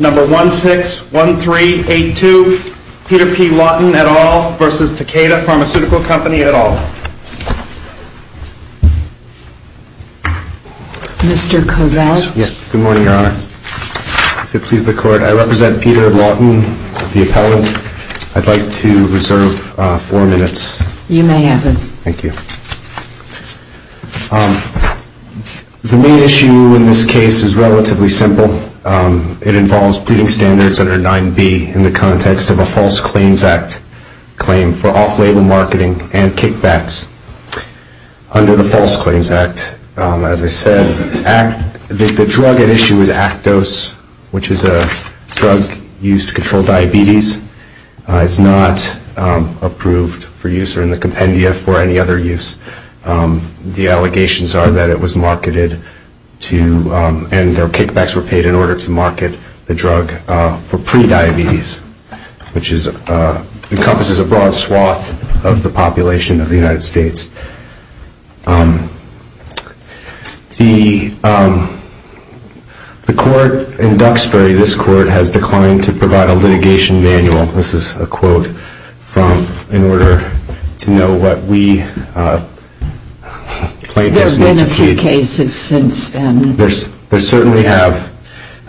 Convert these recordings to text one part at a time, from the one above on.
Number 161382, Peter P. Lawton, et al. v. Takeda Pharmaceutical Company, et al. Mr. Kovals? Yes. Good morning, Your Honor. If it pleases the Court, I represent Peter Lawton, the appellant. I'd like to reserve four minutes. You may have it. Thank you. The main issue in this case is relatively simple. It involves pleading standards under 9b in the context of a False Claims Act claim for off-label marketing and kickbacks. Under the False Claims Act, as I said, the drug at issue is Actos, which is a drug used to control diabetes. It's not approved for use or in the compendia for any other use. The allegations are that it was marketed to, and their kickbacks were paid in order to market the drug for pre-diabetes, which encompasses a broad swath of the population of the United States. The Court in Duxbury, this Court, has declined to provide a litigation manual. This is a quote from, in order to know what we plaintiffs need to see. There have been a few cases since then. There certainly have.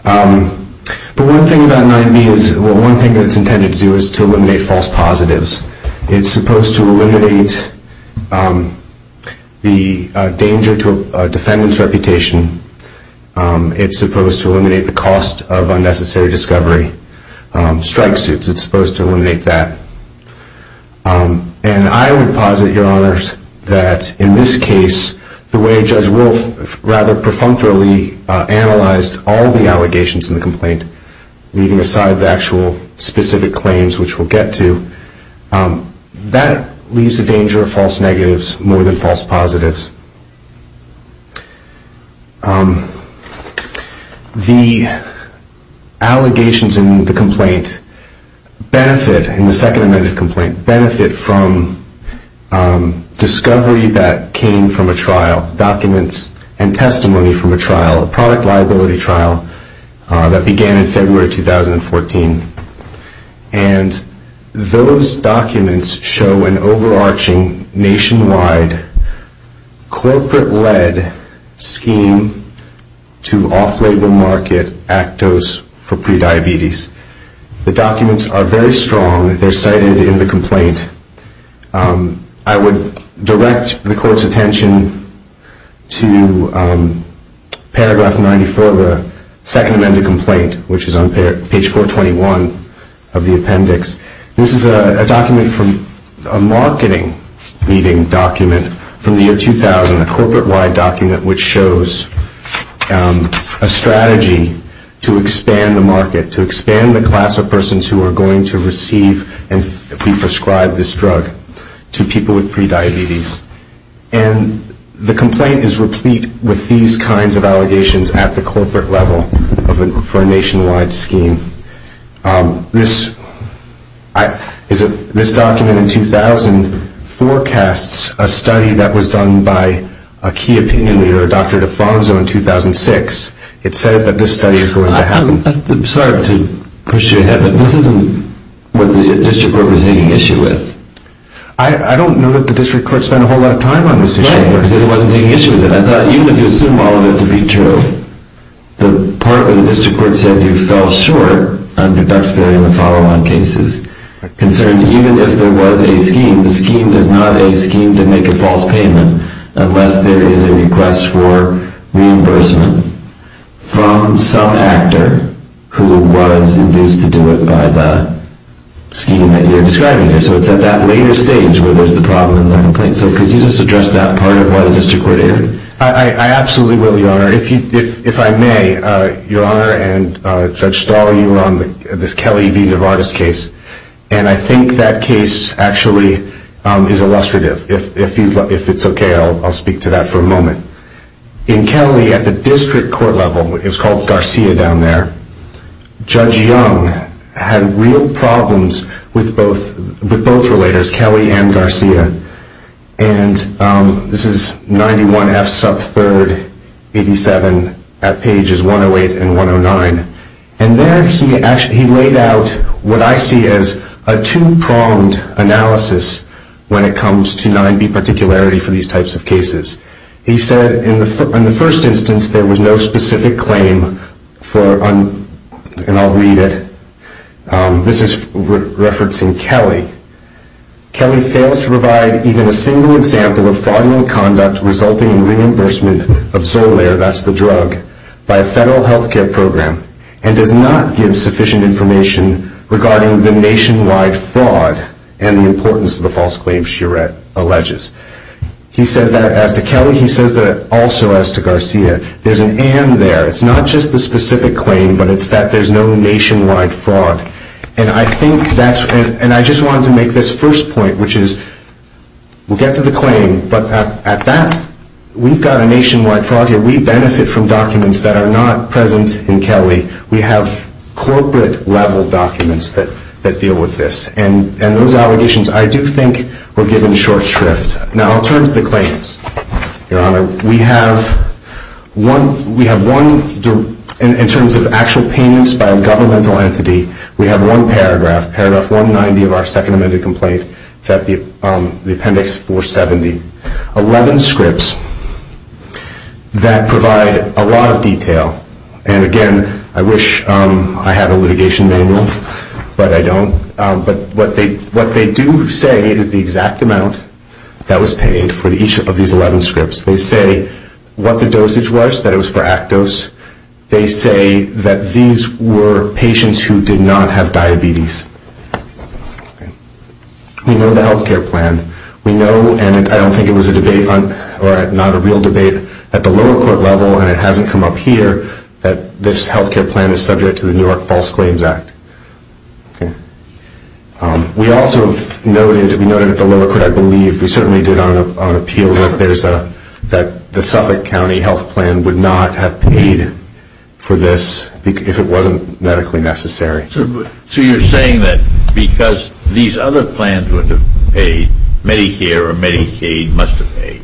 But one thing about 9b is, well, one thing that it's intended to do is to eliminate false positives. It's supposed to eliminate the danger to a defendant's reputation. It's supposed to eliminate the cost of unnecessary discovery. Strike suits, it's supposed to eliminate that. And I would posit, Your Honors, that in this case, the way Judge Wolf rather perfunctorily analyzed all the allegations in the complaint, leaving aside the actual specific claims, which we'll get to, that leaves the danger of false negatives more than false positives. The allegations in the complaint benefit, in the second amendment of the complaint, benefit from discovery that came from a trial, documents and testimony from a trial, a product liability trial, that began in February 2014. And those documents show an overarching, nationwide, corporate-led scheme to off-label market Actos for prediabetes. The documents are very strong. They're cited in the complaint. I would direct the Court's attention to paragraph 94 of the second amendment of the complaint, which is on page 421 of the appendix. This is a document from a marketing meeting document from the year 2000, a corporate-wide document which shows a strategy to expand the market, to expand the class of persons who are going to receive and pre-prescribe this drug to people with prediabetes. And the complaint is replete with these kinds of allegations at the corporate level for a nationwide scheme. This document in 2000 forecasts a study that was done by a key opinion leader, Dr. Defonso, in 2006. It says that this study is going to happen. I'm sorry to push you ahead, but this isn't what the District Court was taking issue with. I don't know that the District Court spent a whole lot of time on this issue. Right, because it wasn't taking issue with it. I thought even if you assumed all of it to be true, the part where the District Court said you fell short under Duxbury in the follow-on cases, concerned even if there was a scheme, the scheme is not a scheme to make a false payment unless there is a request for reimbursement from some actor who was induced to do it by the scheme that you're describing here. So it's at that later stage where there's the problem and the complaint. So could you just address that part of what the District Court did? I absolutely will, Your Honor. If I may, Your Honor and Judge Stahl, you were on this Kelly v. Duvardis case, and I think that case actually is illustrative. If it's okay, I'll speak to that for a moment. In Kelly, at the District Court level, it was called Garcia down there, Judge Young had real problems with both relators, Kelly and Garcia. And this is 91F sub 3rd 87 at pages 108 and 109. And there he laid out what I see as a two-pronged analysis when it comes to 9B particularity for these types of cases. He said in the first instance, there was no specific claim for, and I'll read it. This is referencing Kelly. Kelly fails to provide even a single example of fraudulent conduct resulting in reimbursement of Xolair, that's the drug, by a federal health care program, and does not give sufficient information regarding the nationwide fraud and the importance of the false claims she alleges. He says that as to Kelly, he says that also as to Garcia. There's an and there. It's not just the specific claim, but it's that there's no nationwide fraud. And I think that's, and I just wanted to make this first point, which is, we'll get to the claim, but at that, we've got a nationwide fraud here. We benefit from documents that are not present in Kelly. We have corporate-level documents that deal with this. And those allegations, I do think, were given short shrift. Now, I'll turn to the claims, Your Honor. We have one, in terms of actual payments by a governmental entity, we have one paragraph, paragraph 190 of our second amended complaint. It's at the appendix 470. Eleven scripts that provide a lot of detail. And, again, I wish I had a litigation manual, but I don't. But what they do say is the exact amount that was paid for each of these 11 scripts. They say what the dosage was, that it was for Actos. They say that these were patients who did not have diabetes. We know the health care plan. We know, and I don't think it was a debate, or not a real debate, at the lower court level, and it hasn't come up here, that this health care plan is subject to the New York False Claims Act. We also noted, we noted at the lower court, I believe, we certainly did on appeal, that the Suffolk County health plan would not have paid for this if it wasn't medically necessary. So you're saying that because these other plans would have paid, Medicare or Medicaid must have paid?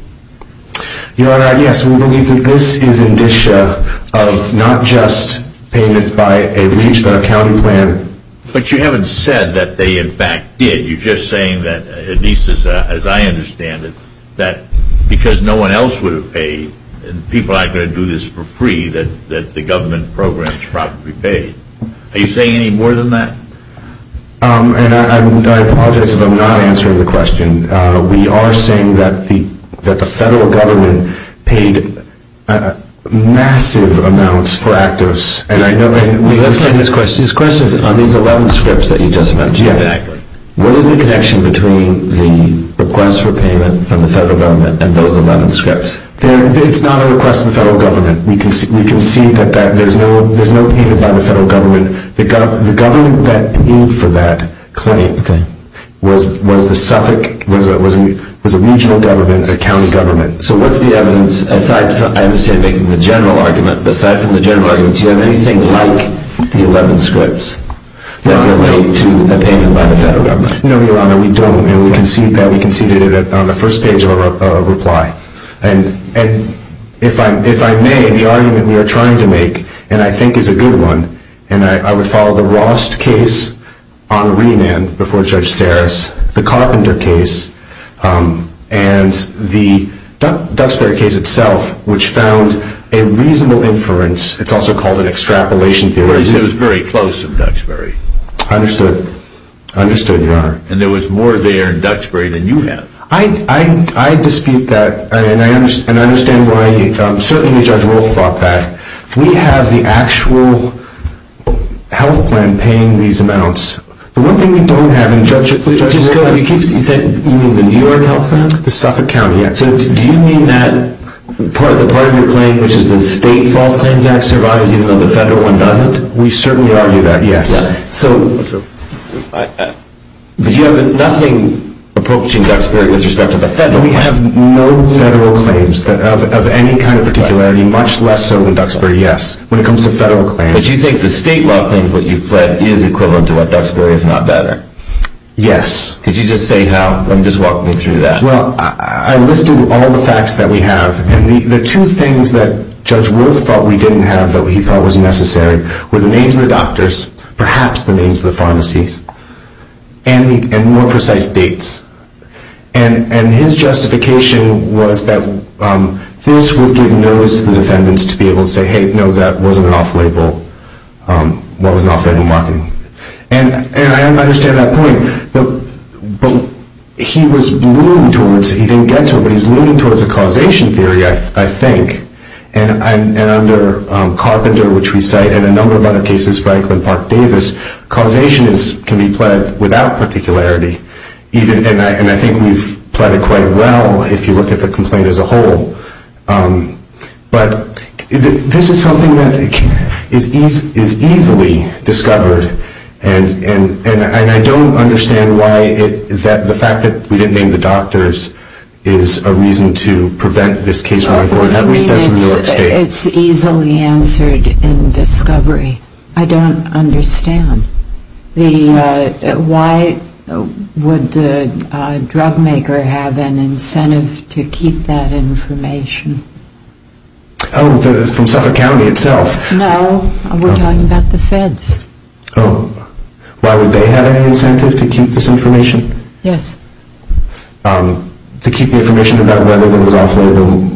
Your Honor, yes. We believe that this is indicia of not just payment by a Registered Accounting Plan. But you haven't said that they, in fact, did. You're just saying that, at least as I understand it, that because no one else would have paid, and people aren't going to do this for free, that the government programs probably paid. Are you saying any more than that? And I apologize if I'm not answering the question. We are saying that the federal government paid massive amounts for Actos. This question is on these 11 scripts that you just mentioned. What is the connection between the request for payment from the federal government and those 11 scripts? It's not a request from the federal government. We can see that there's no payment by the federal government. The government that paid for that claim was the Suffolk, was a regional government, a county government. So what's the evidence, aside from the general argument, aside from the general argument, do you have anything like the 11 scripts that relate to a payment by the federal government? No, Your Honor, we don't. And we conceded that on the first page of our reply. And if I may, the argument we are trying to make, and I think is a good one, and I would follow the Rost case on remand before Judge Saris, the Carpenter case, and the Duxbury case itself, which found a reasonable inference. It's also called an extrapolation theory. It was very close to Duxbury. I understood. I understood, Your Honor. And there was more there in Duxbury than you have. I dispute that, and I understand why certainly Judge Wolf brought that. We have the actual health plan paying these amounts. The one thing we don't have, and Judge Wolf, you said you mean the New York health plan? The Suffolk county, yes. So do you mean that part of your claim, which is the state false claim tax, survives even though the federal one doesn't? We certainly argue that, yes. But you have nothing approaching Duxbury with respect to the federal claims. We have no federal claims of any kind of particularity, much less so than Duxbury, yes, when it comes to federal claims. But you think the state law claims that you fled is equivalent to what Duxbury is not better? Yes. Could you just say how? Just walk me through that. Well, I listed all the facts that we have, and the two things that Judge Wolf thought we didn't have but he thought was necessary were the names of the doctors, perhaps the names of the pharmacies, and more precise dates. And his justification was that this would give notice to the defendants to be able to say, hey, no, that wasn't an off-label marketing. And I understand that point. But he was leaning towards it. He didn't get to it, but he was leaning towards a causation theory, I think. And under Carpenter, which we cite, and a number of other cases, Franklin, Park, Davis, causation can be pled without particularity. And I think we've pled it quite well if you look at the complaint as a whole. But this is something that is easily discovered, and I don't understand why the fact that we didn't name the doctors is a reason to prevent this case from going forward. At least that's what New York State is. It's easily answered in discovery. I don't understand. Why would the drugmaker have an incentive to keep that information? Oh, from Suffolk County itself? No, we're talking about the feds. Oh, why would they have any incentive to keep this information? Yes. To keep the information about whether there was off-label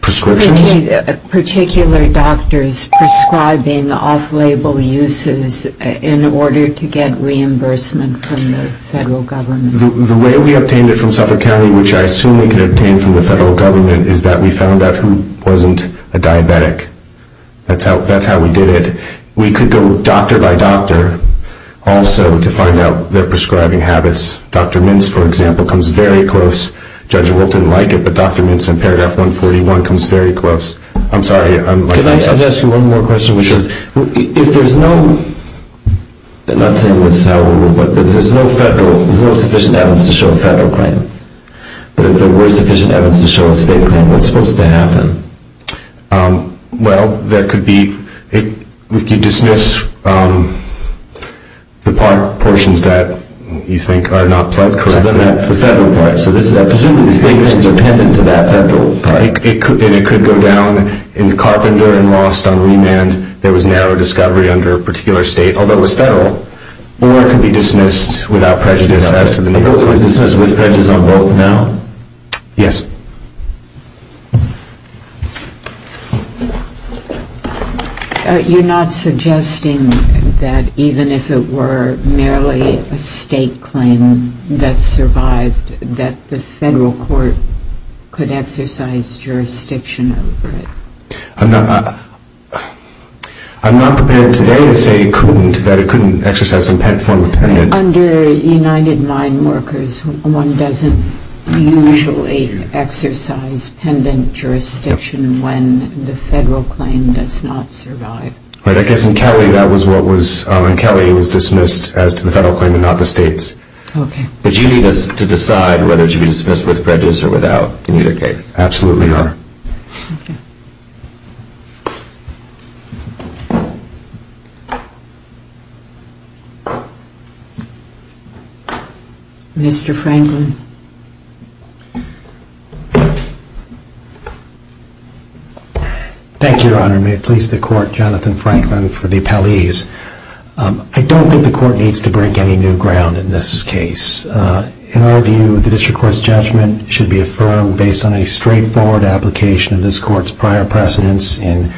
prescriptions? Did you obtain particular doctors prescribing off-label uses in order to get reimbursement from the federal government? The way we obtained it from Suffolk County, which I assume we could obtain from the federal government, is that we found out who wasn't a diabetic. That's how we did it. We could go doctor by doctor also to find out their prescribing habits. Dr. Mintz, for example, comes very close. Judge Wilt didn't like it, but Dr. Mintz in paragraph 141 comes very close. I'm sorry. Can I just ask you one more question? Sure. If there's no, I'm not saying this is how it will work, but if there's no federal, there's no sufficient evidence to show a federal claim, but if there were sufficient evidence to show a state claim, what's supposed to happen? Well, there could be, we could dismiss the part, portions that you think are not correct. That's the federal part. So this is, I presume these things are dependent to that federal part. And it could go down in carpenter and lost on remand. There was narrow discovery under a particular state, although it was federal. Or it could be dismissed without prejudice as to the neighborhood. It was dismissed with prejudice on both now? Yes. You're not suggesting that even if it were merely a state claim that survived, that the federal court could exercise jurisdiction over it? I'm not prepared today to say it couldn't, that it couldn't exercise some form of pendant. Under United Mine Workers, one doesn't usually exercise pendant jurisdiction when the federal claim does not survive. I guess in Kelly, that was what was, in Kelly, it was dismissed as to the federal claim and not the state's. Okay. But you need us to decide whether it should be dismissed with prejudice or without in either case. Absolutely, Your Honor. Mr. Franklin. Thank you, Your Honor. May it please the court, Jonathan Franklin for the appellees. I don't think the court needs to break any new ground in this case. In our view, the district court's judgment should be affirmed based on a straightforward application of this court's prior precedents in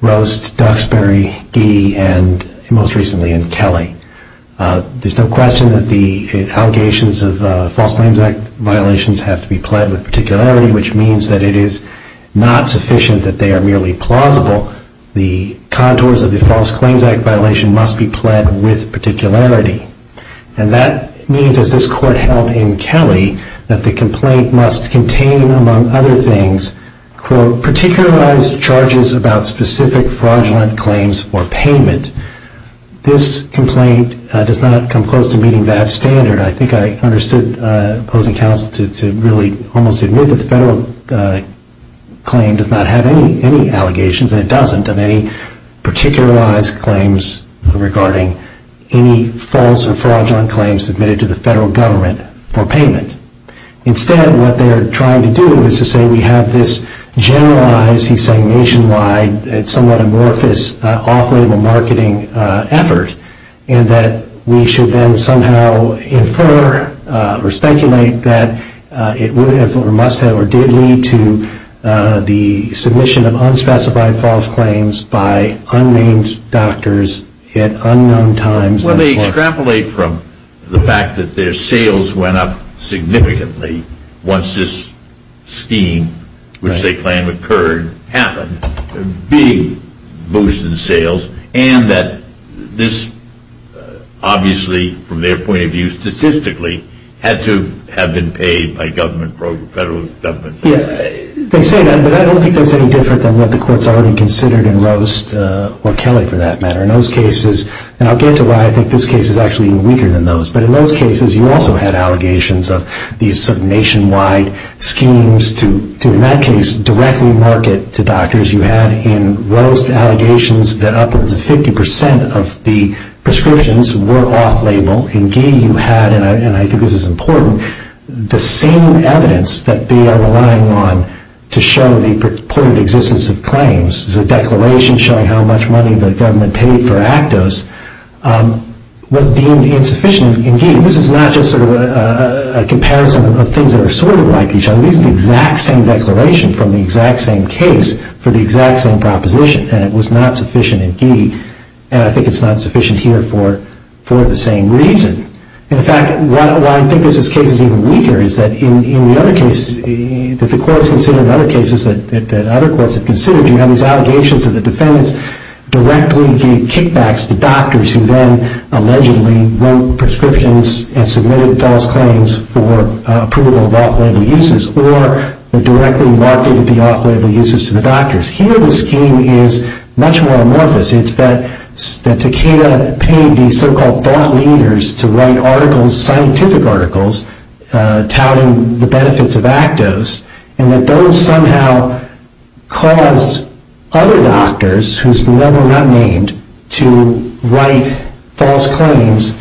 Roast, Duxbury, Gee, and most recently in Kelly. There's no question that the allegations of false claims act violations have to be pled with particularity, which means that it is not sufficient that they are merely plausible. The contours of the false claims act violation must be pled with particularity. And that means, as this court held in Kelly, that the complaint must contain, among other things, quote, particularized charges about specific fraudulent claims for payment. This complaint does not come close to meeting that standard. I think I understood opposing counsel to really almost admit that the federal claim does not have any allegations, and it doesn't, of any particularized claims regarding any false or fraudulent claims submitted to the federal government for payment. Instead, what they're trying to do is to say we have this generalized, he's saying nationwide, somewhat amorphous off-label marketing effort, and that we should then somehow infer or speculate that it would have or must have or did lead to the submission of unspecified false claims by unnamed doctors at unknown times. Well, they extrapolate from the fact that their sales went up significantly once this scheme, which they claim occurred, happened. Big boost in sales, and that this obviously, from their point of view statistically, had to have been paid by federal government. Yeah, they say that, but I don't think that's any different than what the courts already considered in Roast or Kelly, for that matter. In those cases, and I'll get to why I think this case is actually weaker than those, but in those cases, you also had allegations of these nationwide schemes to, in that case, directly market to doctors. You had in Roast allegations that up to 50% of the prescriptions were off-label. In Gee, you had, and I think this is important, the same evidence that they are relying on to show the purported existence of claims. It's a declaration showing how much money the government paid for Actos was deemed insufficient in Gee. This is not just sort of a comparison of things that are sort of like each other. This is the exact same declaration from the exact same case for the exact same proposition, and it was not sufficient in Gee, and I think it's not sufficient here for the same reason. In fact, why I think this case is even weaker is that in the other cases, that the courts considered in other cases that other courts have considered, you have these allegations that the defendants directly gave kickbacks to doctors who then allegedly wrote prescriptions and submitted false claims for approval of off-label uses or directly marketed the off-label uses to the doctors. Here, the scheme is much more amorphous. It's that Takeda paid these so-called thought leaders to write articles, scientific articles, touting the benefits of Actos, and that those somehow caused other doctors, who's never not named, to write false claims,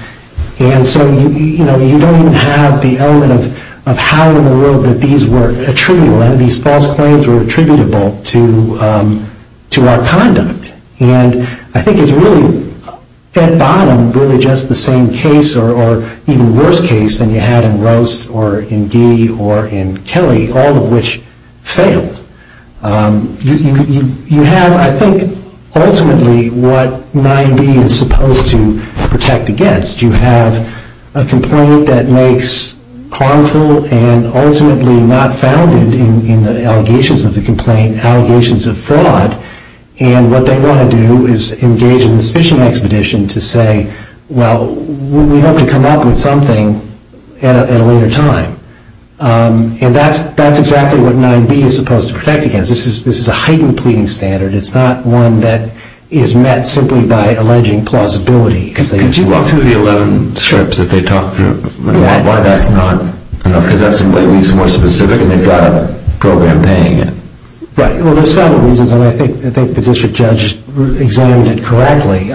and so you don't even have the element of how in the world that these were attributable. These false claims were attributable to our conduct, and I think it's really, at bottom, really just the same case or even worse case than you had in Roast or in Gee or in Kelly, all of which failed. You have, I think, ultimately what 9B is supposed to protect against. You have a complaint that makes harmful and ultimately not founded in the allegations of the complaint allegations of fraud, and what they want to do is engage in suspicion expedition to say, well, we hope to come up with something at a later time, and that's exactly what 9B is supposed to protect against. This is a heightened pleading standard. It's not one that is met simply by alleging plausibility. Could you walk through the 11 strips that they talked through? Why that's not enough? Because that's at least more specific, and they've got a program paying it. Right. Well, there's several reasons, and I think the district judge examined it correctly.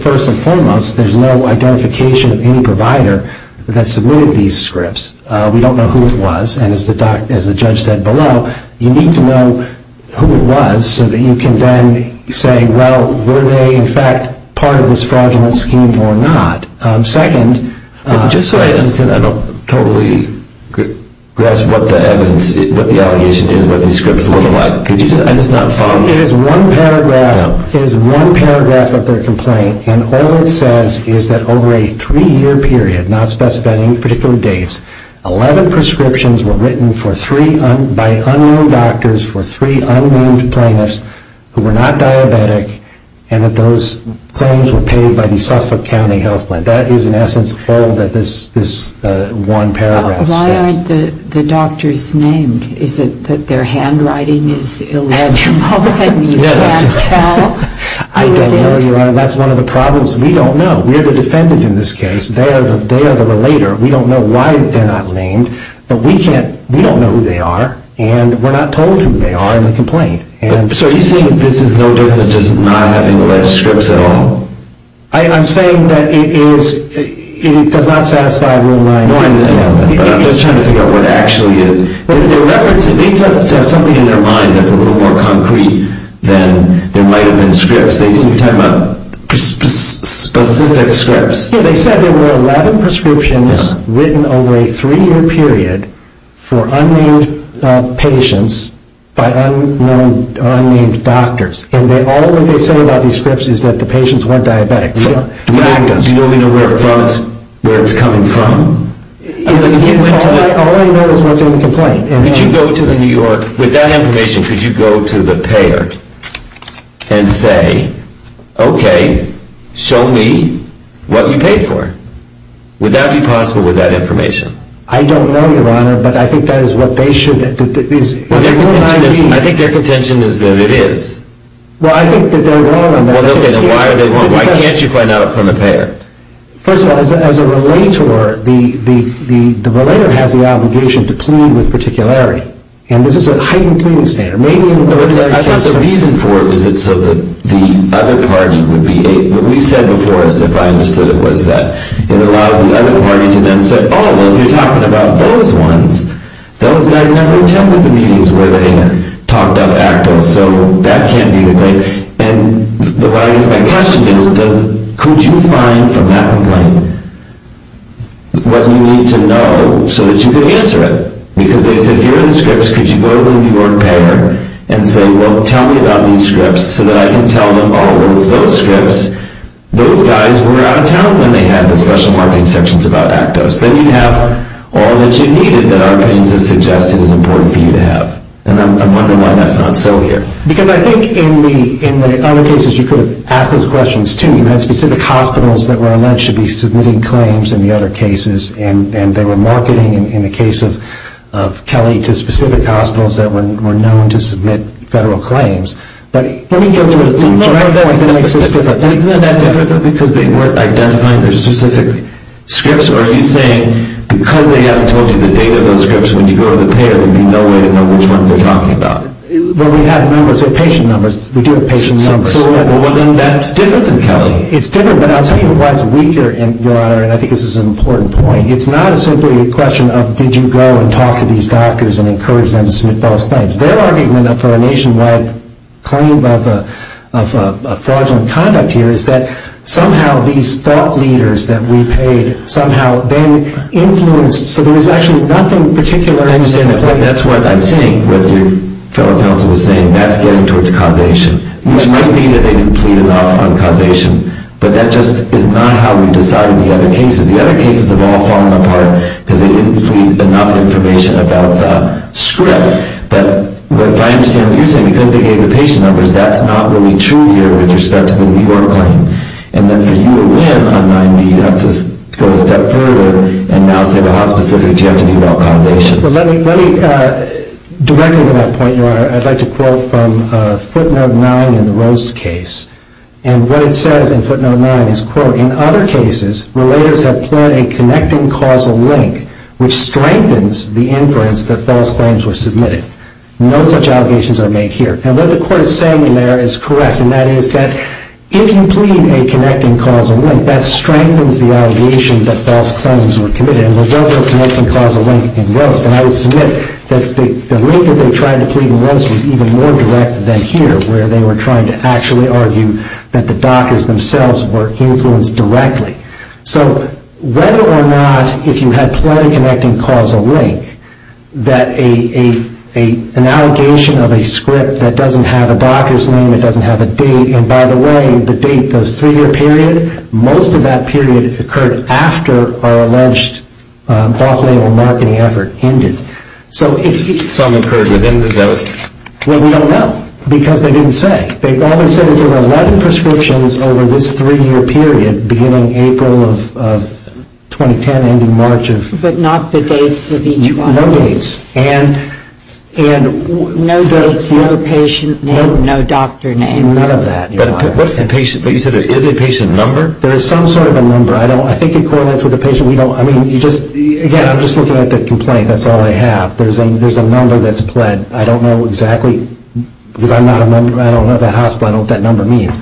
First and foremost, there's no identification of any provider that submitted these scripts. We don't know who it was, and as the judge said below, you need to know who it was so that you can then say, well, were they, in fact, part of this fraudulent scheme or not? Second, Just so I understand, I don't totally grasp what the evidence, what the allegation is, what these scripts look like. I just not found it. It is one paragraph of their complaint, and all it says is that over a three-year period, not specifying particular dates, 11 prescriptions were written by unknown doctors for three unnamed plaintiffs who were not diabetic, and that those claims were paid by the Suffolk County Health Plan. That is, in essence, all that this one paragraph says. Why aren't the doctors named? Is it that their handwriting is illegible and you can't tell who it is? I don't know, Your Honor. That's one of the problems. We don't know. We're the defendant in this case. They are the relator. We don't know why they're not named, but we don't know who they are, and we're not told who they are in the complaint. So are you saying that this is no different than just not having alleged scripts at all? I'm saying that it does not satisfy Rule 9.1. I'm just trying to figure out what actually it is. They reference it. They have something in their mind that's a little more concrete than there might have been scripts. They seem to be talking about specific scripts. They said there were 11 prescriptions written over a three-year period for unnamed patients by unnamed doctors, and all that they say about these scripts is that the patients weren't diabetic. Do we know where it's coming from? All I know is what's in the complaint. With that information, could you go to the payer and say, okay, show me what you paid for? Would that be possible with that information? I don't know, Your Honor, but I think that is what they should. I think their contention is that it is. Well, I think that they're wrong on that. Why can't you find out from the payer? First of all, as a relator, the relator has the obligation to plead with particularity, and this is a heightened pleading standard. I thought the reason for it was so that the other party would be able to What we said before, as if I understood it, was that it allows the other party to then say, oh, well, if you're talking about those ones, those guys never attended the meetings where they had talked up active, so that can't be the case. And what I guess my question is, could you find from that complaint what you need to know so that you can answer it? Because they said, here are the scripts. Could you go to the New York payer and say, well, tell me about these scripts so that I can tell them, oh, it was those scripts. Those guys were out of town when they had the special marketing sections about Actos. Then you'd have all that you needed that our opinions have suggested is important for you to have. And I'm wondering why that's not so here. Because I think in the other cases, you could have asked those questions, too. You had specific hospitals that were alleged to be submitting claims in the other cases, and they were marketing, in the case of Kelly, to specific hospitals that were known to submit federal claims. But let me get to a direct point that makes this different. Isn't that different because they weren't identifying the specific scripts, or are you saying because they haven't told you the date of those scripts, when you go to the payer, there would be no way to know which ones they're talking about? Well, we have numbers. We have patient numbers. We do have patient numbers. Well, then that's different than Kelly. It's different, but I'll tell you why it's weaker, Your Honor, and I think this is an important point. It's not simply a question of did you go and talk to these doctors and encourage them to submit those claims. Their argument for a nationwide claim of fraudulent conduct here is that somehow these thought leaders that we paid somehow then influenced. So there was actually nothing particular. I understand the point. That's what I think what your fellow counsel was saying. That's getting towards causation, which might be that they didn't plead enough on causation, but that just is not how we decided the other cases. The other cases have all fallen apart because they didn't plead enough information about the script. But if I understand what you're saying, because they gave the patient numbers, that's not really true here with respect to the New York claim. And then for you to win on 9B, you have to go a step further and now say, well, how specific do you have to be about causation? Well, let me direct you to that point, Your Honor. I'd like to quote from footnote 9 in the Roast case. And what it says in footnote 9 is, quote, in other cases, relators have pled a connecting causal link, which strengthens the inference that false claims were submitted. No such allegations are made here. And what the court is saying in there is correct, and that is that if you plead a connecting causal link, that strengthens the allegation that false claims were committed. And we'll go through a connecting causal link in Roast. And I would submit that the link that they tried to plead in Roast was even more direct than here, where they were trying to actually argue that the doctors themselves were influenced directly. So whether or not, if you had pled a connecting causal link, that an allegation of a script that doesn't have a doctor's name, it doesn't have a date, and by the way, the date, those three-year period, most of that period occurred after our alleged off-label marketing effort ended. So if you... Some occurred within the zone. Well, we don't know, because they didn't say. They only said there were 11 prescriptions over this three-year period, beginning April of 2010, ending March of... But not the dates of each one. No dates. And... No dates, no patient name, no doctor name. I mean, none of that. But what's the patient... But you said there is a patient number? There is some sort of a number. I don't... I think it correlates with the patient. We don't... I mean, you just... Again, I'm just looking at the complaint. That's all I have. There's a number that's pled. I don't know exactly, because I'm not a member. I don't know that hospital, I don't know what that number means.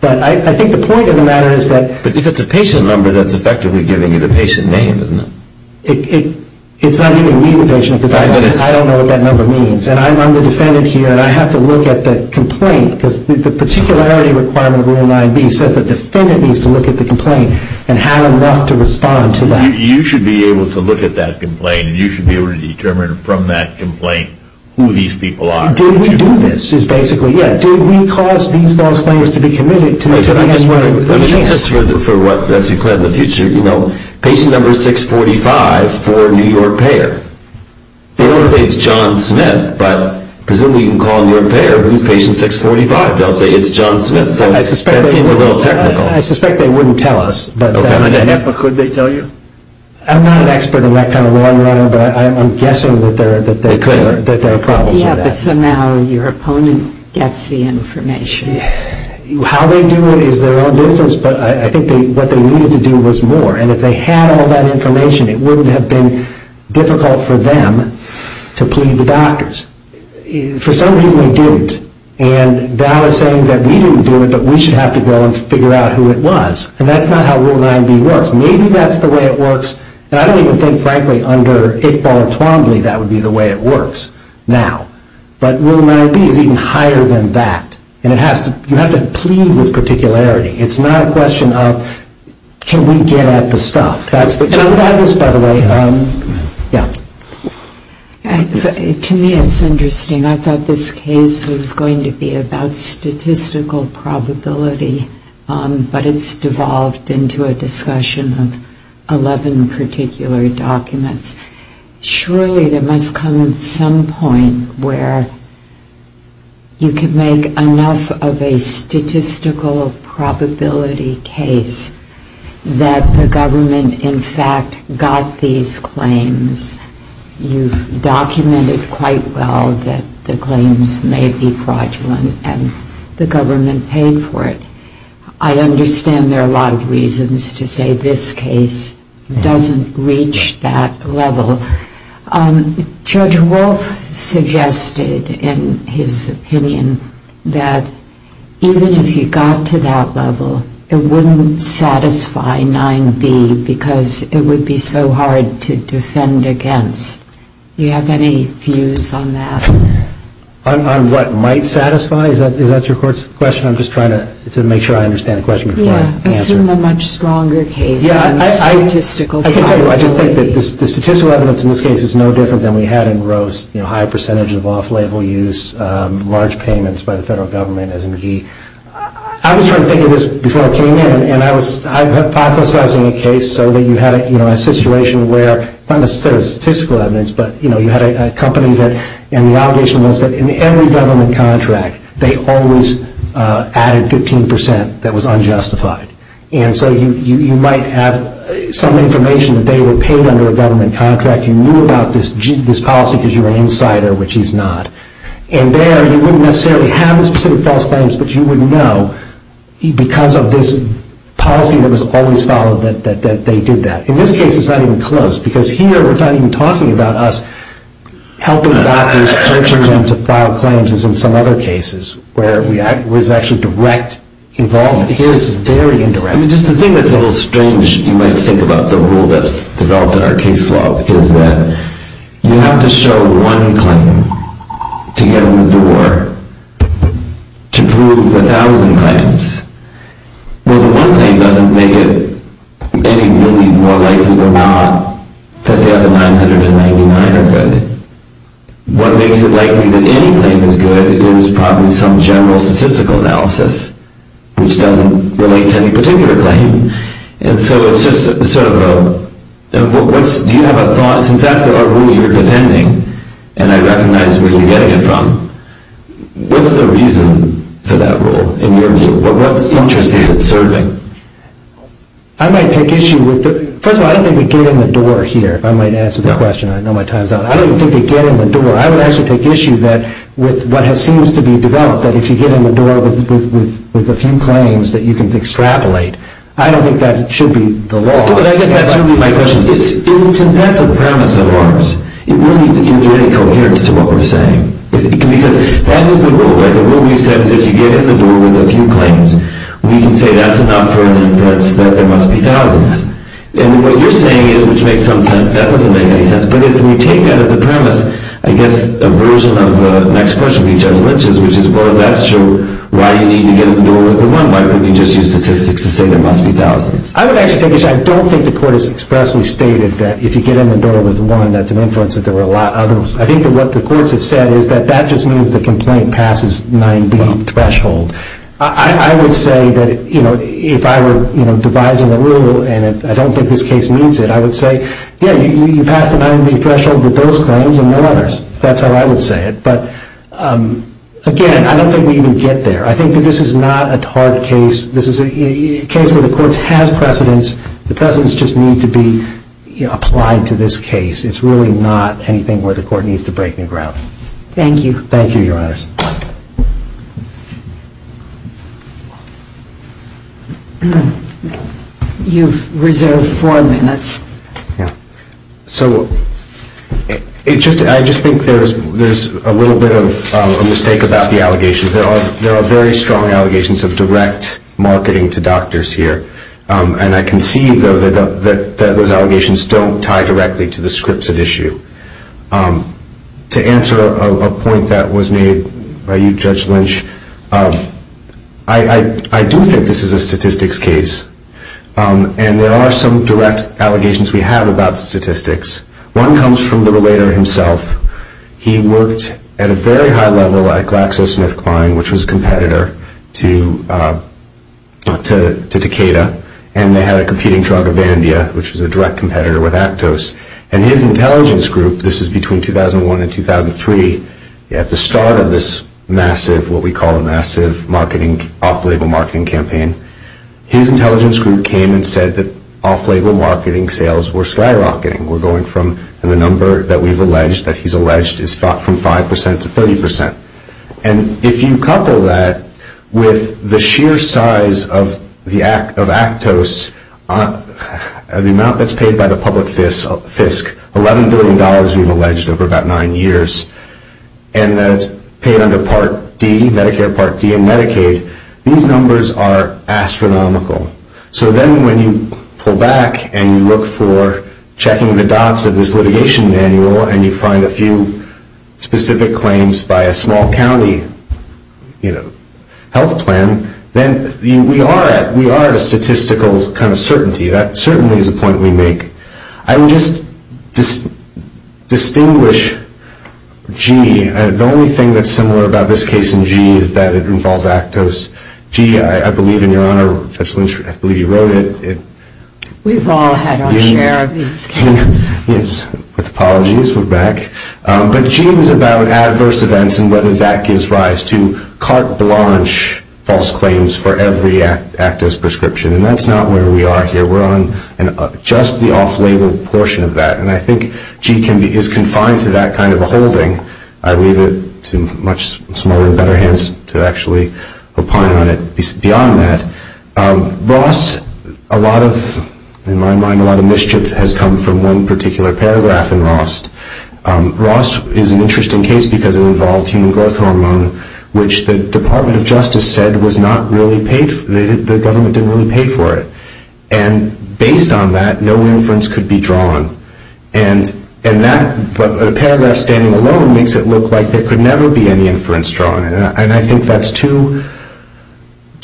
But I think the point of the matter is that... But if it's a patient number, that's effectively giving you the patient name, isn't it? It's not giving me the patient, because I don't know what that number means. And I'm the defendant here, and I have to look at the complaint, because the particularity requirement of Rule 9b says the defendant needs to look at the complaint and have enough to respond to that. You should be able to look at that complaint, and you should be able to determine from that complaint who these people are. Did we do this? Is basically, yeah. Did we cause these false claims to be committed to make sure they get where they... Let me just... For what... As you plan the future, you know, patient number 645 for New York payer. They don't say it's John Smith, but presumably you can call New York payer, but who's patient 645? They'll say it's John Smith, so that seems a little technical. I suspect they wouldn't tell us, but... Could they tell you? I'm not an expert in that kind of law, but I'm guessing that there are problems with that. Yeah, but somehow your opponent gets the information. How they do it is their own business, but I think what they needed to do was more. And if they had all that information, it wouldn't have been difficult for them to plead the doctors. For some reason, they didn't. And that was saying that we didn't do it, but we should have to go and figure out who it was. And that's not how Rule 9B works. Maybe that's the way it works, and I don't even think, frankly, under Iqbal and Twombly, that would be the way it works now. But Rule 9B is even higher than that, and it has to... You have to plead with particularity. It's not a question of, can we get at the stuff? Tell me about this, by the way. Yeah. To me, it's interesting. I thought this case was going to be about statistical probability, but it's devolved into a discussion of 11 particular documents. Surely there must come some point where you can make enough of a statistical probability case that the government, in fact, got these claims. You've documented quite well that the claims may be fraudulent, and the government paid for it. I understand there are a lot of reasons to say this case doesn't reach that level. Judge Wolf suggested, in his opinion, that even if you got to that level, it wouldn't satisfy 9B because it would be so hard to defend against. Do you have any views on that? On what might satisfy? Is that your question? I'm just trying to make sure I understand the question before I answer it. Yeah. Assume a much stronger case than statistical probability. I can tell you, I just think that the statistical evidence in this case is no different than we had in Roast. High percentage of off-label use, large payments by the federal government, as in Guy. I was trying to think of this before I came in, and I was hypothesizing a case so that you had a situation where, not necessarily statistical evidence, but you had a company that... In every government contract, they always added 15% that was unjustified. And so you might have some information that they were paid under a government contract. You knew about this policy because you were an insider, which he's not. And there, you wouldn't necessarily have the specific false claims, but you would know because of this policy that was always followed that they did that. In this case, it's not even close, because here we're not even talking about us helping doctors coaching them to file claims as in some other cases, where it was actually direct involvement. Here, this is very indirect. I mean, just the thing that's a little strange, you might think about the rule that's developed in our case law, is that you have to show one claim to get them to war to prove 1,000 claims. Well, the one claim doesn't make it any really more likely or not that they have a 999 or good. What makes it likely that any claim is good is probably some general statistical analysis, which doesn't relate to any particular claim. And so it's just sort of a... Do you have a thought, since that's the rule you're defending, and I recognize where you're getting it from, what's the reason for that rule, in your view? What interest is it serving? I might take issue with the... First of all, I don't think they get in the door here, if I might answer the question. I know my time's up. I don't think they get in the door. I would actually take issue with what seems to be developed, that if you get in the door with a few claims that you can extrapolate. I don't think that should be the law. But I guess that's really my question. Since that's a premise of ours, is there any coherence to what we're saying? Because that is the rule, right? The rule you said is if you get in the door with a few claims, we can say that's enough for an inference that there must be thousands. And what you're saying is, which makes some sense, that doesn't make any sense. But if we take that as the premise, I guess a version of the next question would be Judge Lynch's, which is, well, if that's true, why do you need to get in the door with the one? Why couldn't you just use statistics to say there must be thousands? I would actually take issue... I don't think the court has expressly stated that if you get in the door with one, that's an inference that there were a lot others. I think that what the courts have said is that that just means the complaint passes 9B threshold. I would say that if I were devising a rule, and I don't think this case meets it, I would say, yeah, you pass the 9B threshold with those claims and no others. That's how I would say it. But, again, I don't think we even get there. I think that this is not a hard case. This is a case where the courts has precedence. The precedence just needs to be applied to this case. It's really not anything where the court needs to break new ground. Thank you. Thank you, Your Honors. You've reserved four minutes. Yeah. So I just think there's a little bit of a mistake about the allegations. There are very strong allegations of direct marketing to doctors here, and I can see, though, that those allegations don't tie directly to the scripts at issue. To answer a point that was made by you, Judge Lynch, I do think this is a statistics case, and there are some direct allegations we have about statistics. One comes from the relator himself. He worked at a very high level at GlaxoSmithKline, which was a competitor to Takeda, and they had a competing drug, Avandia, which was a direct competitor with Actos. And his intelligence group, this is between 2001 and 2003, at the start of this massive, what we call a massive, off-label marketing campaign, his intelligence group came and said that off-label marketing sales were skyrocketing. We're going from the number that we've alleged, that he's alleged, is from 5% to 30%. And if you couple that with the sheer size of Actos, the amount that's paid by the public fisc, $11 billion we've alleged over about nine years, and that it's paid under Part D, Medicare Part D and Medicaid, these numbers are astronomical. So then when you pull back and you look for checking the dots of this litigation manual and you find a few specific claims by a small county health plan, then we are at a statistical kind of certainty. That certainly is a point we make. I would just distinguish G. The only thing that's similar about this case in G is that it involves Actos. G, I believe in your honor, I believe you wrote it. We've all had our share of these cases. With apologies, we're back. But G is about adverse events and whether that gives rise to carte blanche false claims for every Actos prescription. And that's not where we are here. We're on just the off-label portion of that. And I think G is confined to that kind of a holding. I leave it to much smaller and better hands to actually opine on it beyond that. Rost, a lot of, in my mind, a lot of mischief has come from one particular paragraph in Rost. Rost is an interesting case because it involved human growth hormone, which the Department of Justice said the government didn't really pay for it. And based on that, no inference could be drawn. And that paragraph standing alone makes it look like there could never be any inference drawn. And I think that's too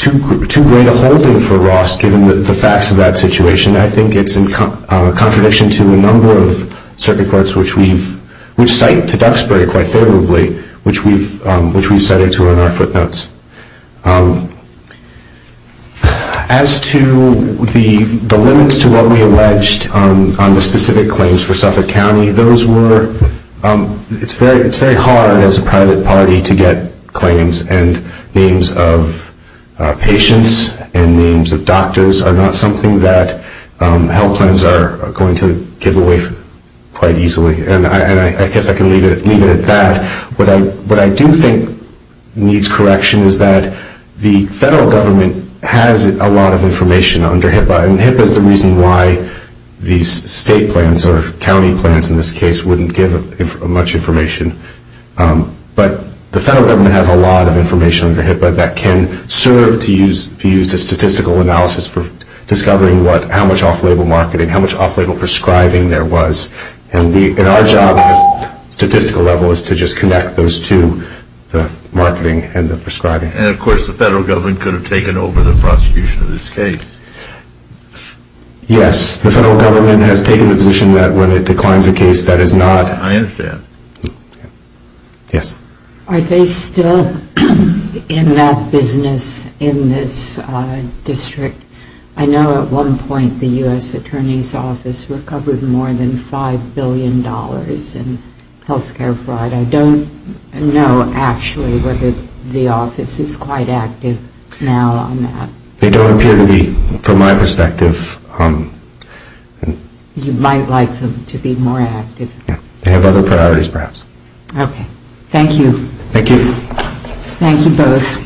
great a holding for Rost given the facts of that situation. I think it's in contradiction to a number of circuit courts, which cite to Duxbury quite favorably, which we've cited to in our footnotes. As to the limits to what we alleged on the specific claims for Suffolk County, those were, it's very hard as a private party to get claims and names of patients and names of doctors are not something that health plans are going to give away quite easily. And I guess I can leave it at that. What I do think needs correction is that the federal government has a lot of information under HIPAA. And HIPAA is the reason why these state plans or county plans in this case wouldn't give much information. But the federal government has a lot of information under HIPAA that can serve to use the statistical analysis for discovering how much off-label marketing, how much off-label prescribing there was. And our job at the statistical level is to just connect those to the marketing and the prescribing. And, of course, the federal government could have taken over the prosecution of this case. Yes, the federal government has taken the position that when it declines a case that is not. I understand. Yes. Are they still in that business in this district? I know at one point the U.S. Attorney's Office recovered more than $5 billion in health care fraud. I don't know actually whether the office is quite active now on that. They don't appear to be from my perspective. You might like them to be more active. They have other priorities perhaps. Okay. Thank you. Thank you. Thank you both.